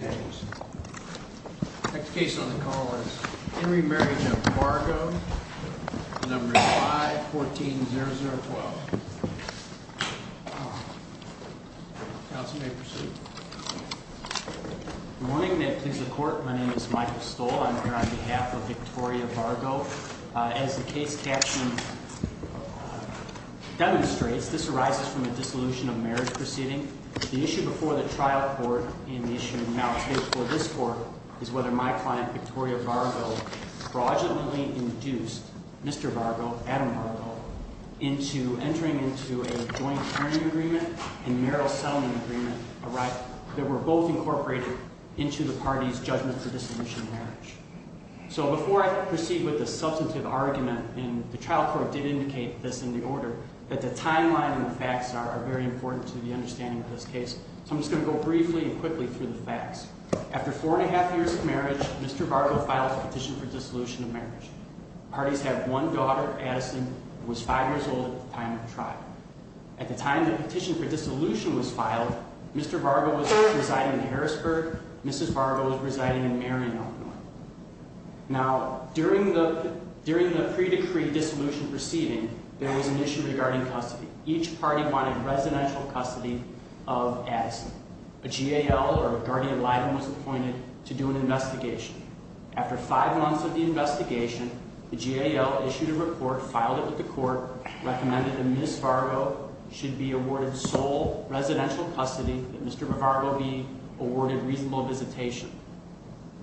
Next case on the call is Henry Marriage of Vargo, number 5, 140012. Counsel may proceed. Good morning, May it please the Court. My name is Michael Stoll. I am here on behalf of Victoria Vargo. As the case caption demonstrates, this arises from a dissolution of marriage proceeding. The issue before the trial court and the issue now before this court is whether my client, Victoria Vargo, fraudulently induced Mr. Vargo, Adam Vargo, into entering into a joint hearing agreement and marital settlement agreement, a right that were both incorporated into the party's judgment for dissolution of marriage. So before I proceed with the substantive argument, and the trial court did indicate this in the order, that the timeline and the facts are very important to the understanding of this case. So I'm just going to go briefly and quickly through the facts. After four and a half years of marriage, Mr. Vargo filed a petition for dissolution of marriage. The parties have one daughter, Addison, who was five years old at the time of the trial. At the time the petition for dissolution was filed, Mr. Vargo was residing in Harrisburg, Mrs. Vargo was residing in Marion, Illinois. Now, during the pre-decree dissolution proceeding, there was an issue regarding custody. Each party wanted residential custody of Addison. A GAL or a guardian liable was appointed to do an investigation. After five months of the investigation, the GAL issued a report, filed it with the court, recommended that Mrs. Vargo should be awarded sole residential custody, that Mr. Vargo be awarded reasonable visitation.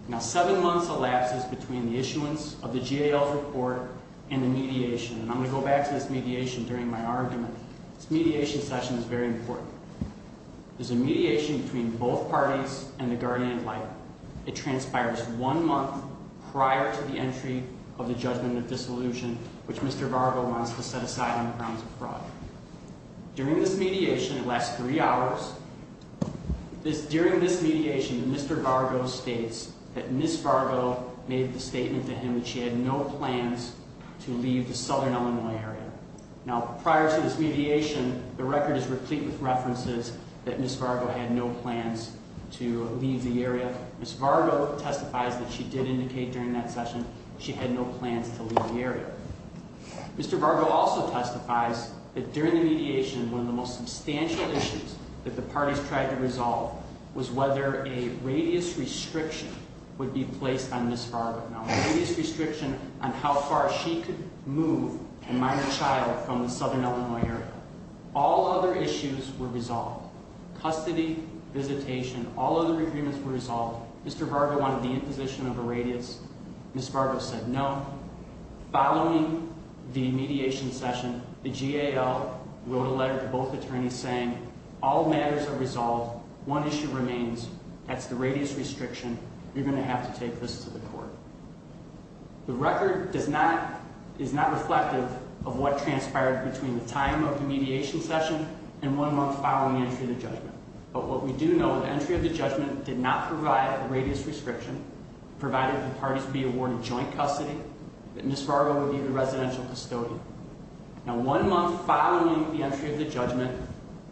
Now, seven months elapses between the issuance of the GAL's report and the mediation, and I'm going to go back to this mediation during my argument. This mediation session is very important. There's a mediation between both parties and the Guardian of Life. It transpires one month prior to the entry of the judgment of dissolution, which Mr. Vargo wants to set aside on the grounds of fraud. During this mediation, it lasts three hours. During this mediation, Mr. Vargo states that Mrs. Vargo made the statement to him that she had no plans to leave the southern Illinois area. Now, prior to this mediation, the record is replete with references that Mrs. Vargo had no plans to leave the area. Mrs. Vargo testifies that she did indicate during that session she had no plans to leave the area. Mr. Vargo also testifies that during the mediation, one of the most substantial issues that the parties tried to resolve was whether a radius restriction would be placed on Mrs. Vargo. Now, a radius restriction on how far she could move a minor child from the southern Illinois area. All other issues were resolved. Custody, visitation, all other agreements were resolved. Mr. Vargo wanted the imposition of a radius. Mrs. Vargo said no. Following the mediation session, the GAL wrote a letter to both attorneys saying all matters are resolved. One issue remains. That's the radius restriction. You're going to have to take this to the court. The record is not reflective of what transpired between the time of the mediation session and one month following the entry of the judgment. But what we do know, the entry of the judgment did not provide a radius restriction, provided the parties be awarded joint custody, that Mrs. Vargo would be the residential custodian. Now, one month following the entry of the judgment,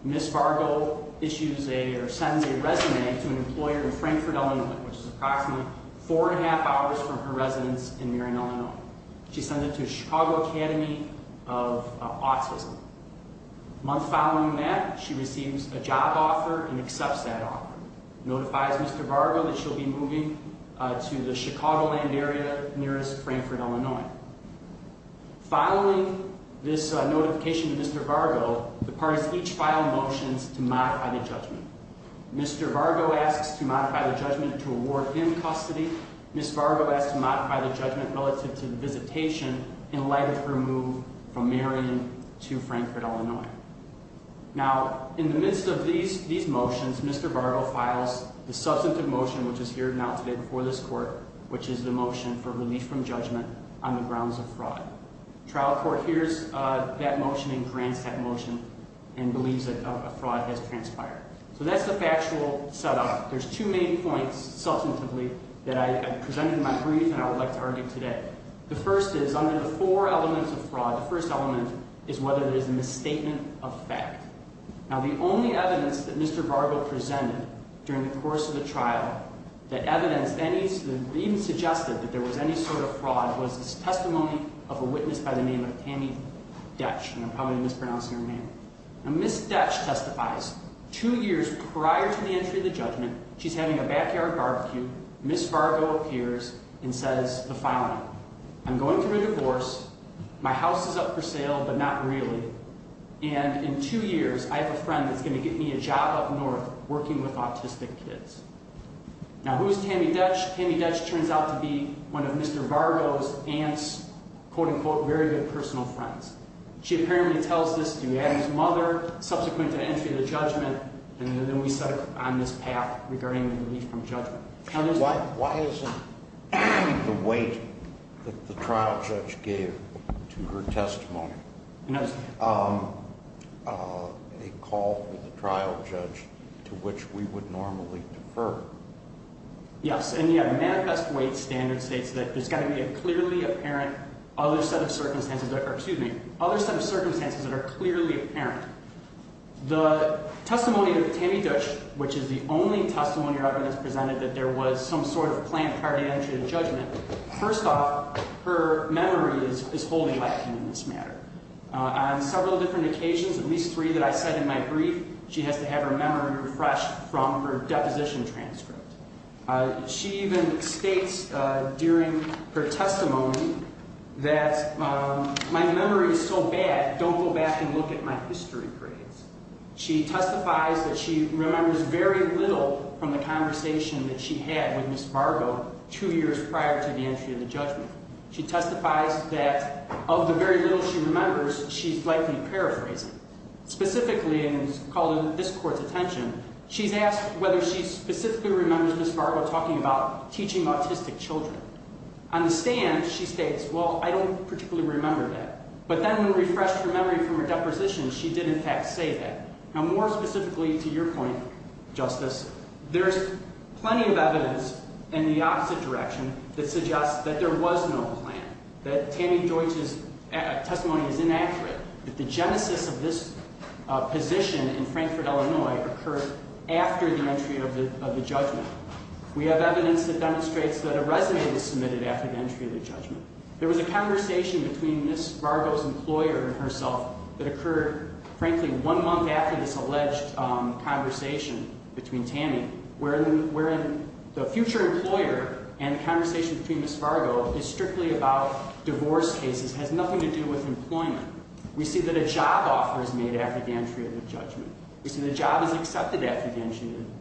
Mrs. Vargo issues a, or sends a resume to an employer in Frankfort, Illinois, which is approximately four and a half hours from her residence in Marin, Illinois. She sends it to Chicago Academy of Autism. A month following that, she receives a job offer and accepts that offer. Notifies Mr. Vargo that she'll be moving to the Chicagoland area nearest Frankfort, Illinois. Following this notification to Mr. Vargo, the parties each file motions to modify the judgment. Mr. Vargo asks to modify the judgment to award him custody. Mrs. Vargo asks to modify the judgment relative to the visitation in light of her move from Marin to Frankfort, Illinois. Now, in the midst of these motions, Mr. Vargo files the substantive motion which is here now today before this court, which is the motion for relief from judgment on the grounds of fraud. Trial court hears that motion and grants that motion and believes that a fraud has transpired. So that's the factual setup. There's two main points, substantively, that I presented in my brief and I would like to argue today. The first is, under the four elements of fraud, the first element is whether there's a misstatement of fact. Now, the only evidence that Mr. Vargo presented during the course of the trial that evidenced any, even suggested that there was any sort of fraud, was his testimony of a witness by the name of Tammy Detsch. And I'm probably mispronouncing her name. Now, Ms. Detsch testifies. Two years prior to the entry of the judgment, she's having a backyard barbecue. Ms. Vargo appears and says the following. I'm going through a divorce. My house is up for sale, but not really. And in two years, I have a friend that's going to get me a job up north working with autistic kids. Now, who's Tammy Detsch? Tammy Detsch turns out to be one of Mr. Vargo's aunt's, quote unquote, very good personal friends. She apparently tells this to Adam's mother subsequent to entry of the judgment, and then we set on this path regarding the relief from judgment. Why isn't the weight that the trial judge gave to her testimony a call for the trial judge to which we would normally defer? Yes, and the manifest weight standard states that there's got to be a clearly apparent other set of circumstances that are clearly apparent. The testimony of Tammy Detsch, which is the only testimony or argument that's presented that there was some sort of planned prior to entry to judgment, first off, her memory is wholly lacking in this matter. On several different occasions, at least three that I said in my brief, she has to have her memory refreshed from her deposition transcript. She even states during her testimony that my memory is so bad, don't go back and look at my history grades. She testifies that she remembers very little from the conversation that she had with Ms. Vargo two years prior to the entry of the judgment. She testifies that of the very little she remembers, she's likely paraphrasing. Specifically, and it's called in this court's attention, she's asked whether she specifically remembers Ms. Vargo talking about teaching autistic children. On the stand, she states, well, I don't particularly remember that. But then when refreshed her memory from her deposition, she did in fact say that. Now, more specifically to your point, Justice, there's plenty of evidence in the opposite direction that suggests that there was no plan, that Tammy Deutsch's testimony is inaccurate, that the genesis of this position in Frankfurt, Illinois, occurred after the entry of the judgment. We have evidence that demonstrates that a resume was submitted after the entry of the judgment. There was a conversation between Ms. Vargo's employer and herself that occurred, frankly, one month after this alleged conversation between Tammy, wherein the future employer and the conversation between Ms. Vargo is strictly about divorce cases, has nothing to do with employment. We see that a job offer is made after the entry of the judgment. We see the job is accepted after the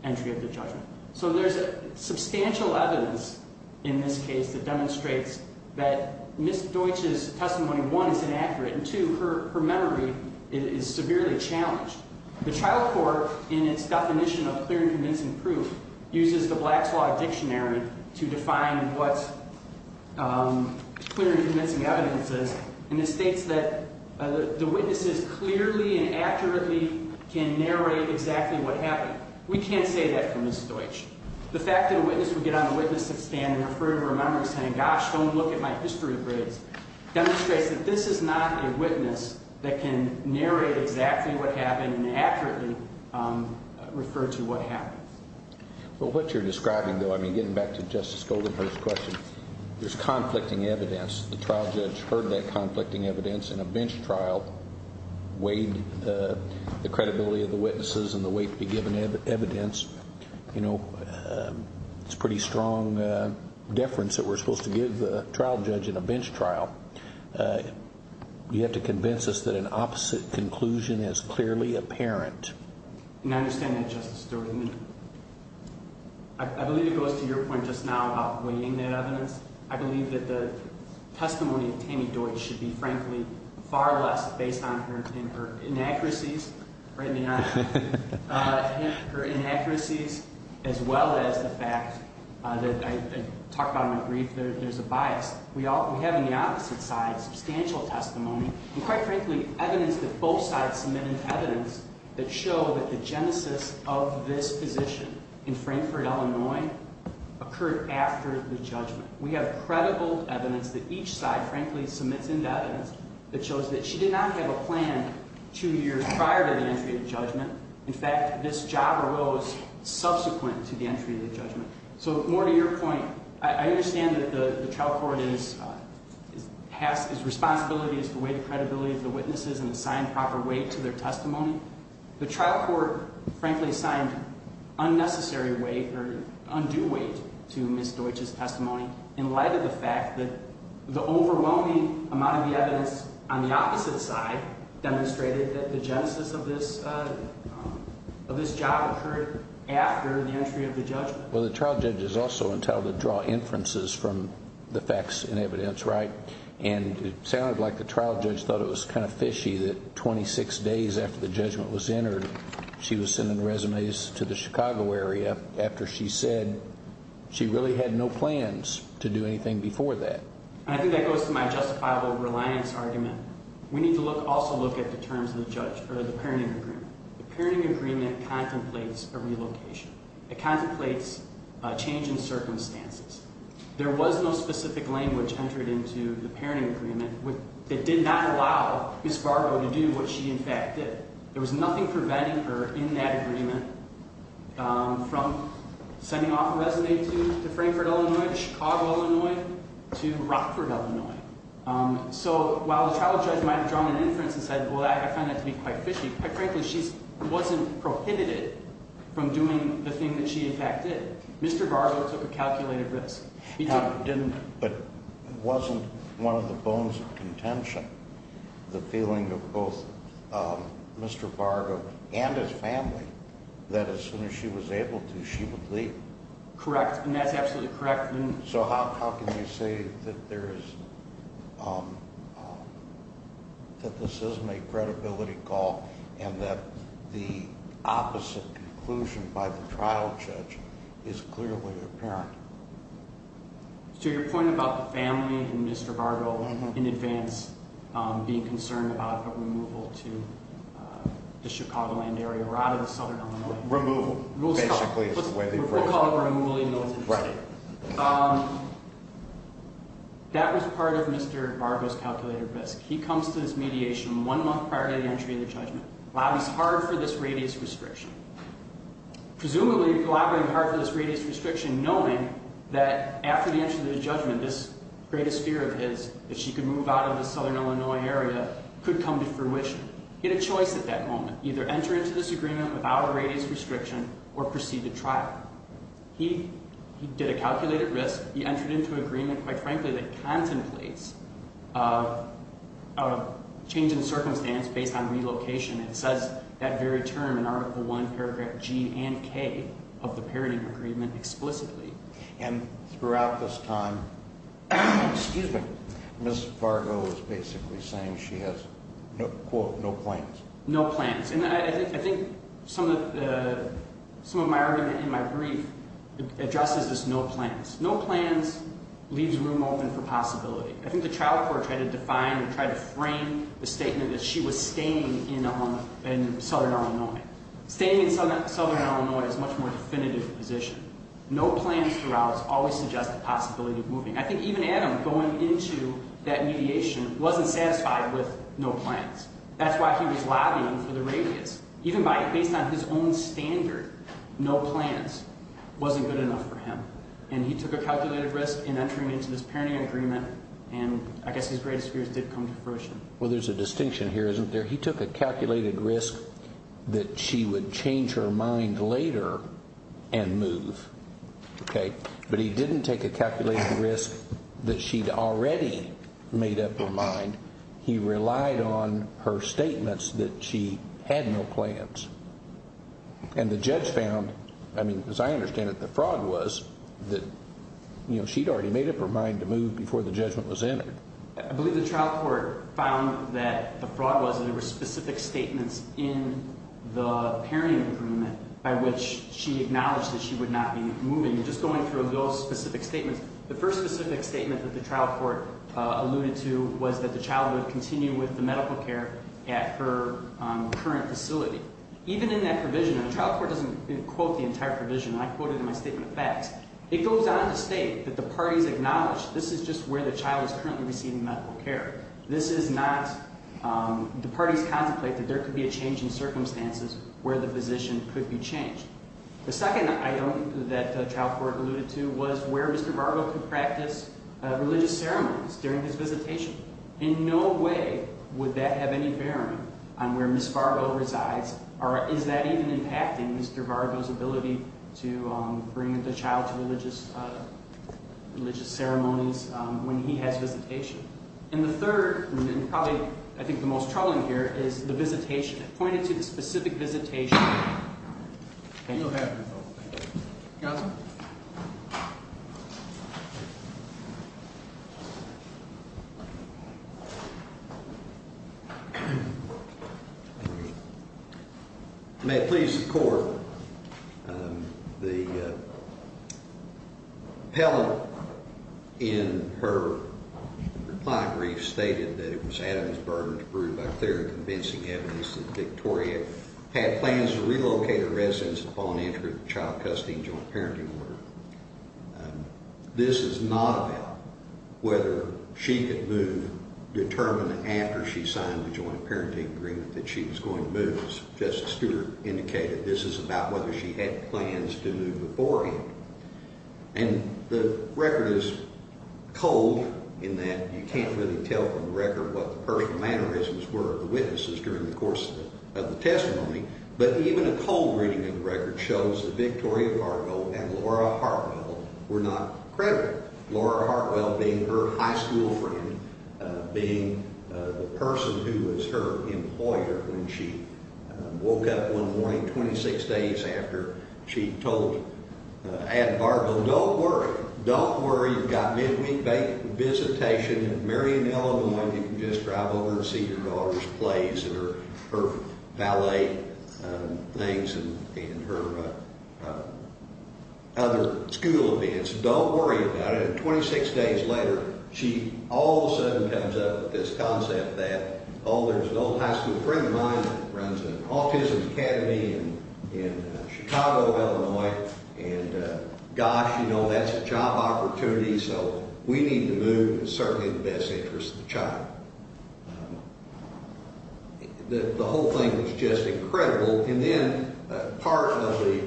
entry of the judgment. So there's substantial evidence in this case that demonstrates that Ms. Deutsch's testimony, one, is inaccurate, and two, her memory is severely challenged. The trial court, in its definition of clear and convincing proof, uses the Black's Law Dictionary to define what clear and convincing evidence is, and it states that the witnesses clearly and accurately can narrate exactly what happened. We can't say that for Ms. Deutsch. The fact that a witness would get on the witness stand and refer to her memory saying, gosh, don't look at my history of grades, demonstrates that this is not a witness that can narrate exactly what happened and accurately refer to what happened. Well, what you're describing, though, I mean, getting back to Justice Goldenhurst's question, there's conflicting evidence. The trial judge heard that conflicting evidence in a bench trial, weighed the credibility of the witnesses and the weight to be given evidence. It's pretty strong deference that we're supposed to give the trial judge in a bench trial. You have to convince us that an opposite conclusion is clearly apparent. And I understand that, Justice Stewart. I believe it goes to your point just now about weighing that evidence. I believe that the testimony of Tammy Deutsch should be, frankly, far less based on her inaccuracies, as well as the fact that I talked about in my brief, there's a bias. We have on the opposite side substantial testimony and, quite frankly, evidence that both sides submitted evidence that show that the genesis of this position in Frankfurt, Illinois, occurred after the judgment. We have credible evidence that each side, frankly, submits into evidence that shows that she did not have a plan two years prior to the entry of the judgment. In fact, this job arose subsequent to the entry of the judgment. So more to your point, I understand that the trial court is – has – its responsibility is to weigh the credibility of the witnesses and assign proper weight to their testimony. The trial court, frankly, assigned unnecessary weight or undue weight to Ms. Deutsch's testimony in light of the fact that the overwhelming amount of the evidence on the opposite side demonstrated that the genesis of this – of this job occurred after the entry of the judgment. Well, the trial judge is also entitled to draw inferences from the facts and evidence, right? And it sounded like the trial judge thought it was kind of fishy that 26 days after the judgment was entered, she was sending resumes to the Chicago area after she said she really had no plans to do anything before that. And I think that goes to my justifiable reliance argument. We need to look – also look at the terms of the judge – or the parenting agreement. The parenting agreement contemplates a relocation. It contemplates a change in circumstances. There was no specific language entered into the parenting agreement that did not allow Ms. Barbo to do what she, in fact, did. There was nothing preventing her in that agreement from sending off a resume to Frankfurt, Illinois, to Chicago, Illinois, to Rockford, Illinois. So while the trial judge might have drawn an inference and said, well, I find that to be quite fishy, quite frankly, she wasn't prohibited from doing the thing that she, in fact, did. Mr. Barbo took a calculated risk. He didn't. But wasn't one of the bones of contention the feeling of both Mr. Barbo and his family that as soon as she was able to, she would leave? Correct, and that's absolutely correct. So how can you say that there is – that this isn't a credibility call and that the opposite conclusion by the trial judge is clearly apparent? So your point about the family and Mr. Barbo in advance being concerned about a removal to the Chicagoland area or out of the southern Illinois – Removal, basically is the way they phrase it. Right. That was part of Mr. Barbo's calculated risk. He comes to his mediation one month prior to the entry of the judgment, lobbies hard for this radius restriction, presumably collaborating hard for this radius restriction, knowing that after the entry of the judgment, this greatest fear of his, that she could move out of the southern Illinois area, could come to fruition. He had a choice at that moment. Either enter into this agreement without a radius restriction or proceed to trial. He did a calculated risk. He entered into an agreement, quite frankly, that contemplates a change in circumstance based on relocation. It says that very term in Article I, Paragraph G and K of the Parity Agreement explicitly. And throughout this time, Ms. Fargo is basically saying she has, quote, no plans. No plans. And I think some of my argument in my brief addresses this no plans. No plans leaves room open for possibility. I think the trial court tried to define and tried to frame the statement that she was staying in southern Illinois. Staying in southern Illinois is a much more definitive position. No plans throughout always suggest the possibility of moving. I think even Adam going into that mediation wasn't satisfied with no plans. That's why he was lobbying for the radius. Even based on his own standard, no plans wasn't good enough for him. And he took a calculated risk in entering into this Parity Agreement, and I guess his greatest fears did come to fruition. Well, there's a distinction here, isn't there? He took a calculated risk that she would change her mind later and move, okay? But he didn't take a calculated risk that she'd already made up her mind. He relied on her statements that she had no plans. And the judge found, I mean, as I understand it, the fraud was that, you know, she'd already made up her mind to move before the judgment was entered. I believe the trial court found that the fraud was that there were specific statements in the Parity Agreement by which she acknowledged that she would not be moving. And just going through those specific statements, the first specific statement that the trial court alluded to was that the child would continue with the medical care at her current facility. Even in that provision, and the trial court doesn't quote the entire provision. I quote it in my statement of facts. It goes on to state that the parties acknowledge this is just where the child is currently receiving medical care. This is not, the parties contemplate that there could be a change in circumstances where the physician could be changed. The second item that the trial court alluded to was where Mr. Vargo could practice religious ceremonies during his visitation. In no way would that have any bearing on where Ms. Vargo resides, or is that even impacting Mr. Vargo's ability to bring the child to religious ceremonies when he has visitation? And the third, and probably I think the most troubling here, is the visitation. I pointed to the specific visitation. Thank you. Counsel? May it please the court. The appellant in her reply brief stated that it was Adam's burden to prove by clear and convincing evidence that Victoria had plans to relocate her residence upon entry of the child custody and joint parenting order. This is not about whether she could move determined after she signed the joint parenting agreement that she was going to move. As Justice Stewart indicated, this is about whether she had plans to move beforehand. And the record is cold in that you can't really tell from the record what the personal mannerisms were of the witnesses during the course of the testimony. But even a cold reading of the record shows that Victoria Vargo and Laura Hartwell were not credible. Laura Hartwell being her high school friend, being the person who was her employer when she woke up one morning 26 days after she told Adam Vargo, Don't worry. Don't worry. You've got midweek visitation at Marion, Illinois. You can just drive over and see your daughter's plays and her ballet things and her other school events. Don't worry about it. And 26 days later, she all of a sudden comes up with this concept that, oh, there's an old high school friend of mine that runs an autism academy in Chicago, Illinois. And gosh, you know, that's a job opportunity, so we need to move. It's certainly in the best interest of the child. The whole thing was just incredible. And then part of the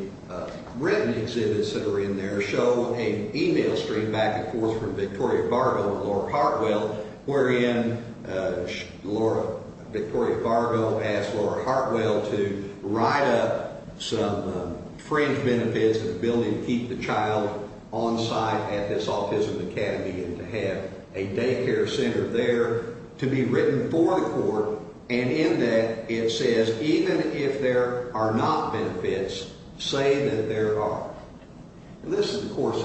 written exhibits that are in there show an e-mail stream back and forth from Victoria Vargo and Laura Hartwell, wherein Victoria Vargo asked Laura Hartwell to write up some fringe benefits of the ability to keep the child on site at this autism academy and to have a daycare center there to be written for the court. And in that, it says even if there are not benefits, say that there are. And this is, of course,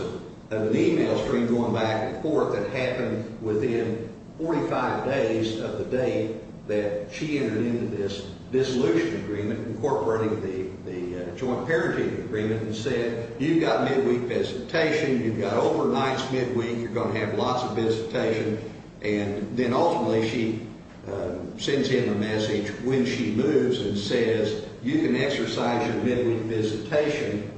an e-mail stream going back and forth that happened within 45 days of the date that she entered into this dissolution agreement, incorporating the joint parenting agreement, and said you've got midweek visitation, you've got overnight's midweek, you're going to have lots of visitation. And then ultimately she sends him a message when she moves and says you can exercise your midweek visitation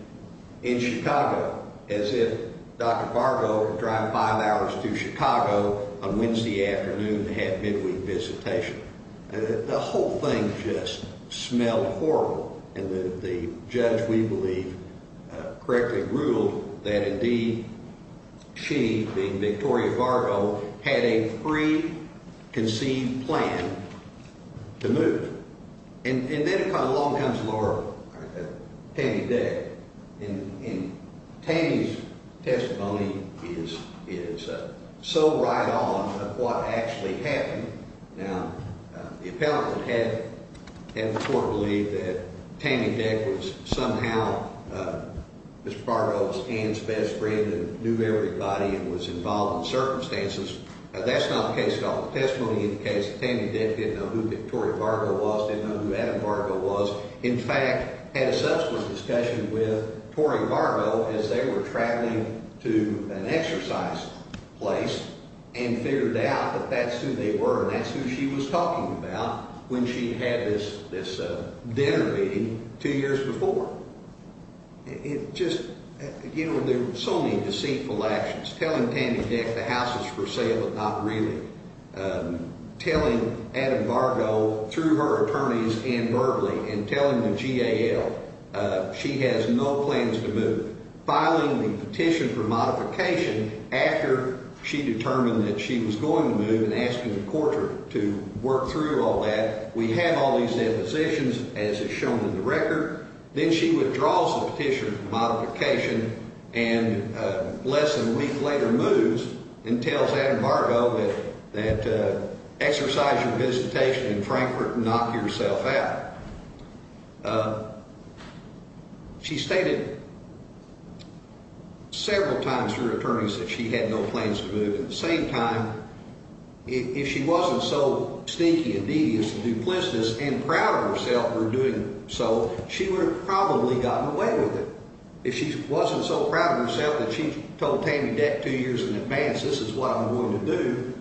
in Chicago, as if Dr. Vargo would drive five hours to Chicago on Wednesday afternoon to have midweek visitation. The whole thing just smelled horrible. And the judge, we believe, correctly ruled that indeed she, being Victoria Vargo, had a preconceived plan to move. And then along comes Laura, Tammy Day. And Tammy's testimony is so right on of what actually happened. Now, the appellant had the court believe that Tammy Day was somehow Mr. Vargo's aunt's best friend and knew everybody and was involved in circumstances. That's not the case at all. The testimony indicates that Tammy Day didn't know who Victoria Vargo was, didn't know who Adam Vargo was. In fact, had a subsequent discussion with Tori Vargo as they were traveling to an exercise place and figured out that that's who they were and that's who she was talking about when she had this dinner meeting two years before. It just, you know, there were so many deceitful actions. Telling Tammy Day the house was for sale, but not really. Telling Adam Vargo through her attorneys and verbally and telling the GAL she has no plans to move. Filing the petition for modification after she determined that she was going to move and asking the court to work through all that. We have all these depositions as is shown in the record. Then she withdraws the petition for modification and less than a week later moves and tells Adam Vargo that exercise your visitation in Frankfurt and knock yourself out. She stated several times through her attorneys that she had no plans to move. At the same time, if she wasn't so sneaky and devious and duplicitous and proud of herself for doing so, she would have probably gotten away with it. If she wasn't so proud of herself that she told Tammy Day two years in advance this is what I'm going to do.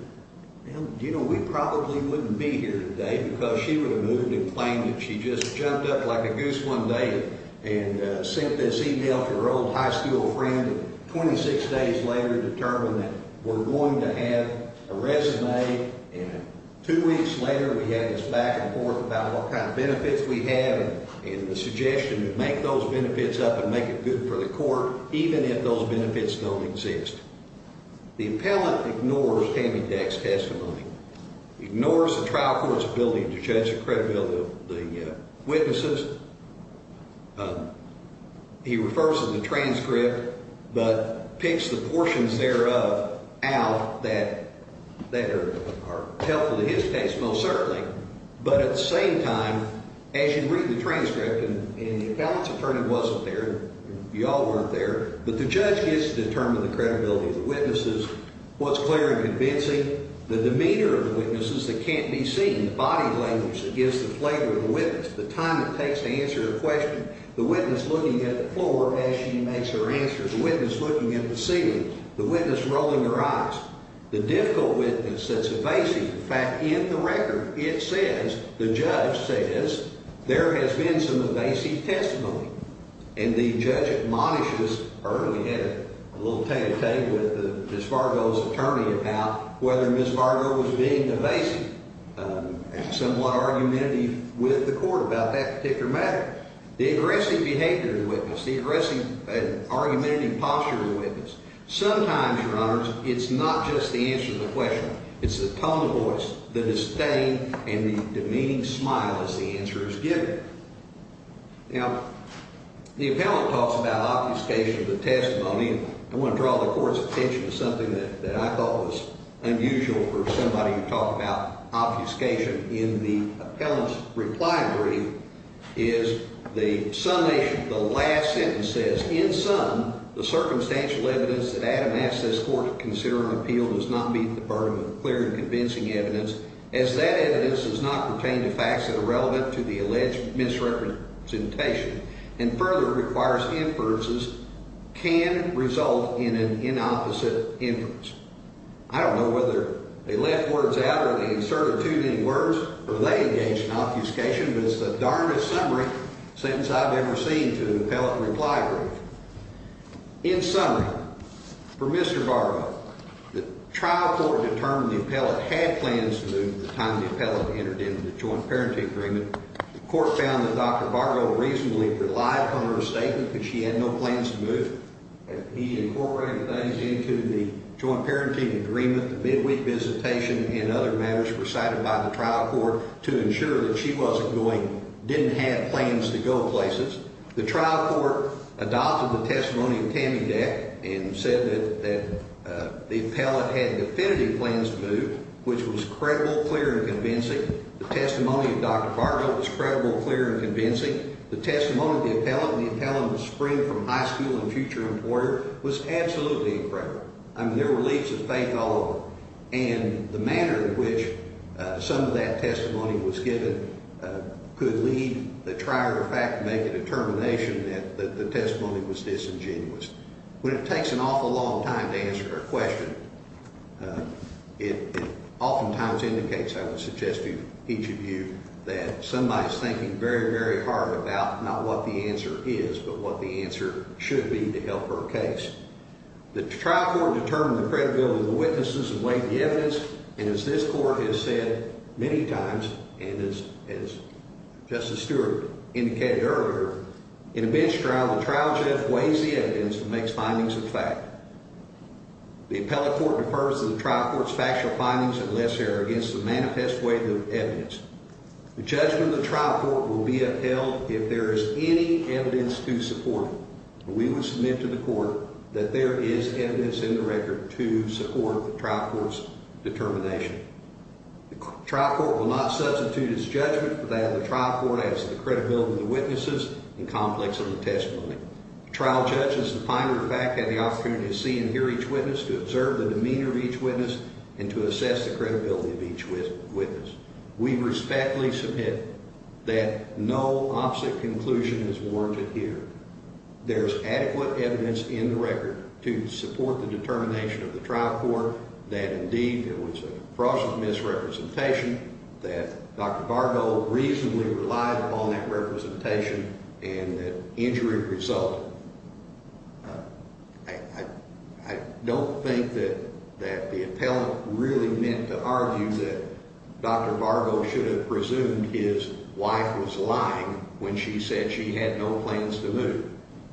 You know, we probably wouldn't be here today because she would have moved and claimed that she just jumped up like a goose one day and sent this email to her old high school friend. Twenty-six days later determined that we're going to have a resume and two weeks later we had this back and forth about what kind of benefits we have. And the suggestion to make those benefits up and make it good for the court even if those benefits don't exist. The appellant ignores Tammy Day's testimony, ignores the trial court's ability to judge the credibility of the witnesses. He refers to the transcript but picks the portions thereof out that are helpful to his case most certainly. But at the same time, as you read the transcript and the appellant's attorney wasn't there, you all weren't there, but the judge gets to determine the credibility of the witnesses. What's clear and convincing? The demeanor of the witnesses that can't be seen. The body language that gives the flavor of the witness. The time it takes to answer a question. The witness looking at the floor as she makes her answer. The witness looking at the ceiling. The witness rolling her eyes. The difficult witness that's evasive. In fact, in the record, it says, the judge says, there has been some evasive testimony. And the judge admonished this early. He had a little table talk with Ms. Fargo's attorney about whether Ms. Fargo was being evasive and somewhat argumentative with the court about that particular matter. The aggressive behavior of the witness, the aggressive argumentative posture of the witness. Sometimes, Your Honors, it's not just the answer to the question. It's the tone of voice, the disdain, and the demeaning smile as the answer is given. Now, the appellant talks about obfuscation of the testimony. I want to draw the Court's attention to something that I thought was unusual for somebody to talk about obfuscation. In the appellant's reply brief is the last sentence says, in sum, the circumstantial evidence that Adam asked this court to consider on appeal does not meet the burden of clear and convincing evidence, as that evidence does not pertain to facts that are relevant to the alleged misrepresentation and further requires inferences can result in an inopposite inference. I don't know whether they left words out or they inserted too many words or they engaged in obfuscation, but it's the darndest summary sentence I've ever seen to an appellant reply brief. In summary, for Mr. Fargo, the trial court determined the appellant had plans to move at the time the appellant entered into the joint parenting agreement. The court found that Dr. Fargo reasonably relied upon her statement because she had no plans to move. He incorporated things into the joint parenting agreement, the midweek visitation, and other matters presided by the trial court to ensure that she wasn't going – didn't have plans to go places. The trial court adopted the testimony of Tammy Deck and said that the appellant had definitive plans to move, which was credible, clear, and convincing. The testimony of Dr. Fargo was credible, clear, and convincing. The testimony of the appellant and the appellant's spring from high school and future employer was absolutely incredible. I mean, there were leaps of faith all over. And the manner in which some of that testimony was given could lead the trier of fact to make a determination that the testimony was disingenuous. When it takes an awful long time to answer a question, it oftentimes indicates, I would suggest to each of you, that somebody is thinking very, very hard about not what the answer is but what the answer should be to help her case. The trial court determined the credibility of the witnesses and weighed the evidence. And as this court has said many times, and as Justice Stewart indicated earlier, in a bench trial, the trial judge weighs the evidence and makes findings of fact. The appellate court defers to the trial court's factual findings and less error against the manifest weight of evidence. The judgment of the trial court will be upheld if there is any evidence to support it. We would submit to the court that there is evidence in the record to support the trial court's determination. The trial court will not substitute its judgment for that of the trial court as the credibility of the witnesses and complex of the testimony. The trial judge, as the finder of fact, had the opportunity to see and hear each witness, to observe the demeanor of each witness, and to assess the credibility of each witness. We respectfully submit that no opposite conclusion is warranted here. There is adequate evidence in the record to support the determination of the trial court that indeed there was a fraudulent misrepresentation, that Dr. Vargo reasonably relied upon that representation, and that injury resulted. I don't think that the appellate really meant to argue that Dr. Vargo should have presumed his wife was lying when she said she had no plans to move.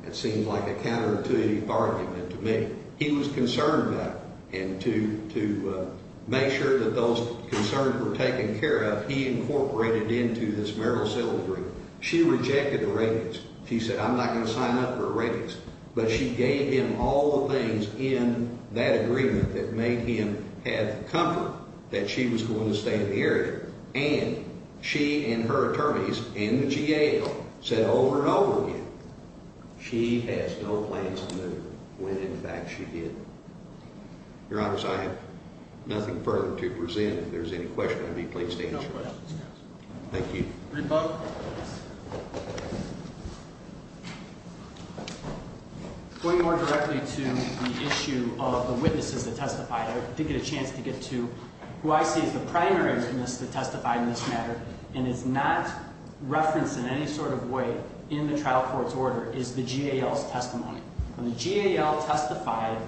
It seemed like a counterintuitive argument to me. He was concerned about it, and to make sure that those concerns were taken care of, he incorporated into this marital settlement agreement. She rejected the ratings. She said, I'm not going to sign up for a ratings. But she gave him all the things in that agreement that made him have comfort that she was going to stay in the area. And she and her attorneys in the GAO said over and over again, she has no plans to move, when in fact she did. Your Honors, I have nothing further to present. If there's any questions, I'd be pleased to answer them. Thank you. Read the book. Going more directly to the issue of the witnesses that testified, I didn't get a chance to get to. Who I see as the primary witness that testified in this matter, and is not referenced in any sort of way in the trial court's order, is the GAO's testimony. The GAO testified,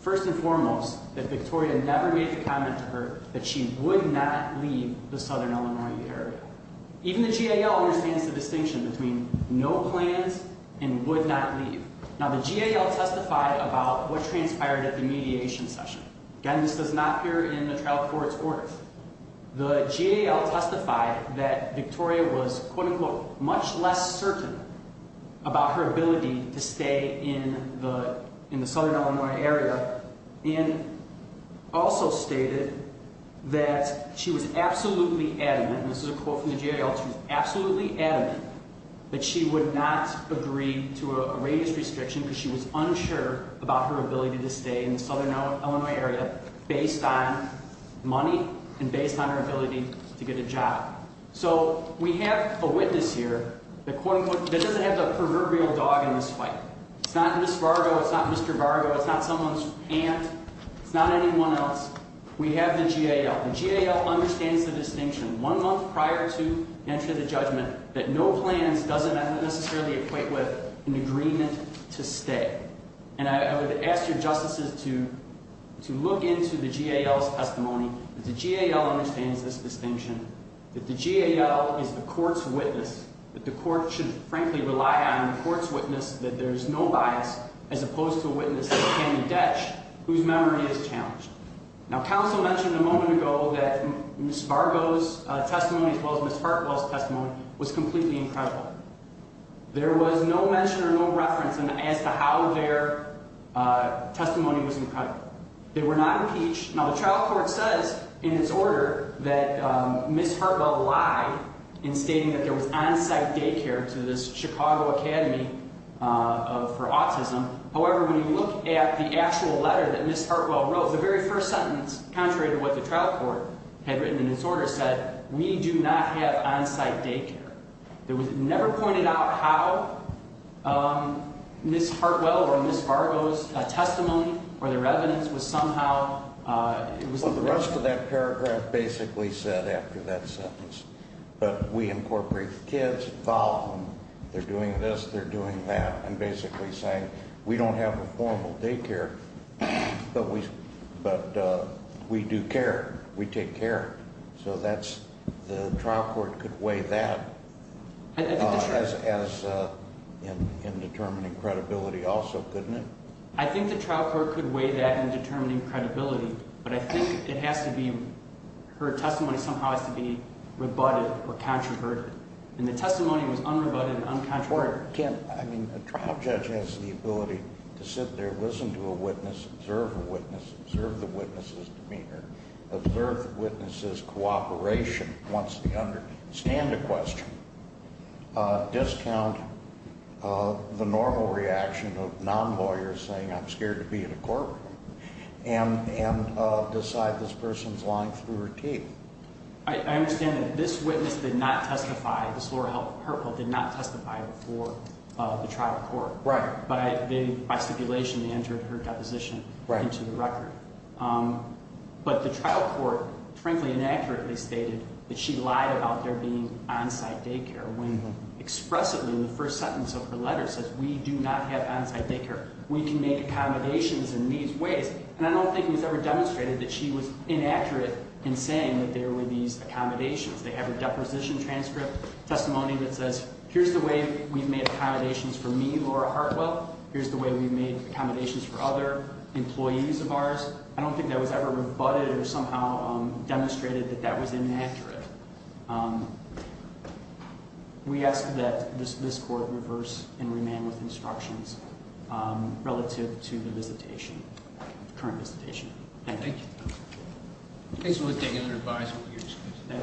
first and foremost, that Victoria never made the comment to her that she would not leave the Southern Illinois area. Even the GAO understands the distinction between no plans and would not leave. Now, the GAO testified about what transpired at the mediation session. Again, this does not appear in the trial court's orders. The GAO testified that Victoria was, quote, unquote, much less certain about her ability to stay in the Southern Illinois area. And also stated that she was absolutely adamant, and this is a quote from the GAO, she was absolutely adamant that she would not agree to a radius restriction, because she was unsure about her ability to stay in the Southern Illinois area based on money and based on her ability to get a job. So, we have a witness here that, quote, unquote, that doesn't have the proverbial dog in this fight. It's not Ms. Vargo, it's not Mr. Vargo, it's not someone's aunt, it's not anyone else. We have the GAO. The GAO understands the distinction one month prior to entry of the judgment that no plans doesn't necessarily equate with an agreement to stay. And I would ask your justices to look into the GAO's testimony. The GAO understands this distinction, that the GAO is the court's witness, that the court should, frankly, rely on the court's witness, that there's no bias as opposed to a witness that can be ditched whose memory is challenged. Now, counsel mentioned a moment ago that Ms. Vargo's testimony as well as Ms. Hartwell's testimony was completely incredible. There was no mention or no reference as to how their testimony was incredible. They were not impeached. Now, the trial court says in its order that Ms. Hartwell lied in stating that there was on-site daycare to this Chicago Academy for autism. However, when you look at the actual letter that Ms. Hartwell wrote, the very first sentence, contrary to what the trial court had written in its order, said, we do not have on-site daycare. It was never pointed out how Ms. Hartwell or Ms. Vargo's testimony or their evidence was somehow, it was the rest of it. Well, the rest of that paragraph basically said after that sentence. But we incorporate the kids, involve them, they're doing this, they're doing that, and basically saying we don't have a formal daycare, but we do care. We take care. So that's, the trial court could weigh that as in determining credibility also, couldn't it? I think the trial court could weigh that in determining credibility. But I think it has to be, her testimony somehow has to be rebutted or controverted. And the testimony was unrebutted and uncontroverted. I mean, a trial judge has the ability to sit there, listen to a witness, observe a witness, observe the witness's demeanor, observe the witness's cooperation once they understand a question, discount the normal reaction of non-lawyers saying I'm scared to be in a courtroom. And decide this person's lying through her teeth. I understand that this witness did not testify, Ms. Laura Hartwell did not testify before the trial court. Right. By stipulation they entered her deposition into the record. Right. But the trial court frankly inaccurately stated that she lied about there being on-site daycare when expressively in the first sentence of her letter says we do not have on-site daycare. We can make accommodations in these ways. And I don't think it was ever demonstrated that she was inaccurate in saying that there were these accommodations. They have a deposition transcript testimony that says here's the way we've made accommodations for me, Laura Hartwell. Here's the way we've made accommodations for other employees of ours. I don't think that was ever rebutted or somehow demonstrated that that was inaccurate. We ask that this court reverse and remand with instructions relative to the visitation, current visitation. Thank you. Thank you. Okay, so we'll take any other advice. Okay.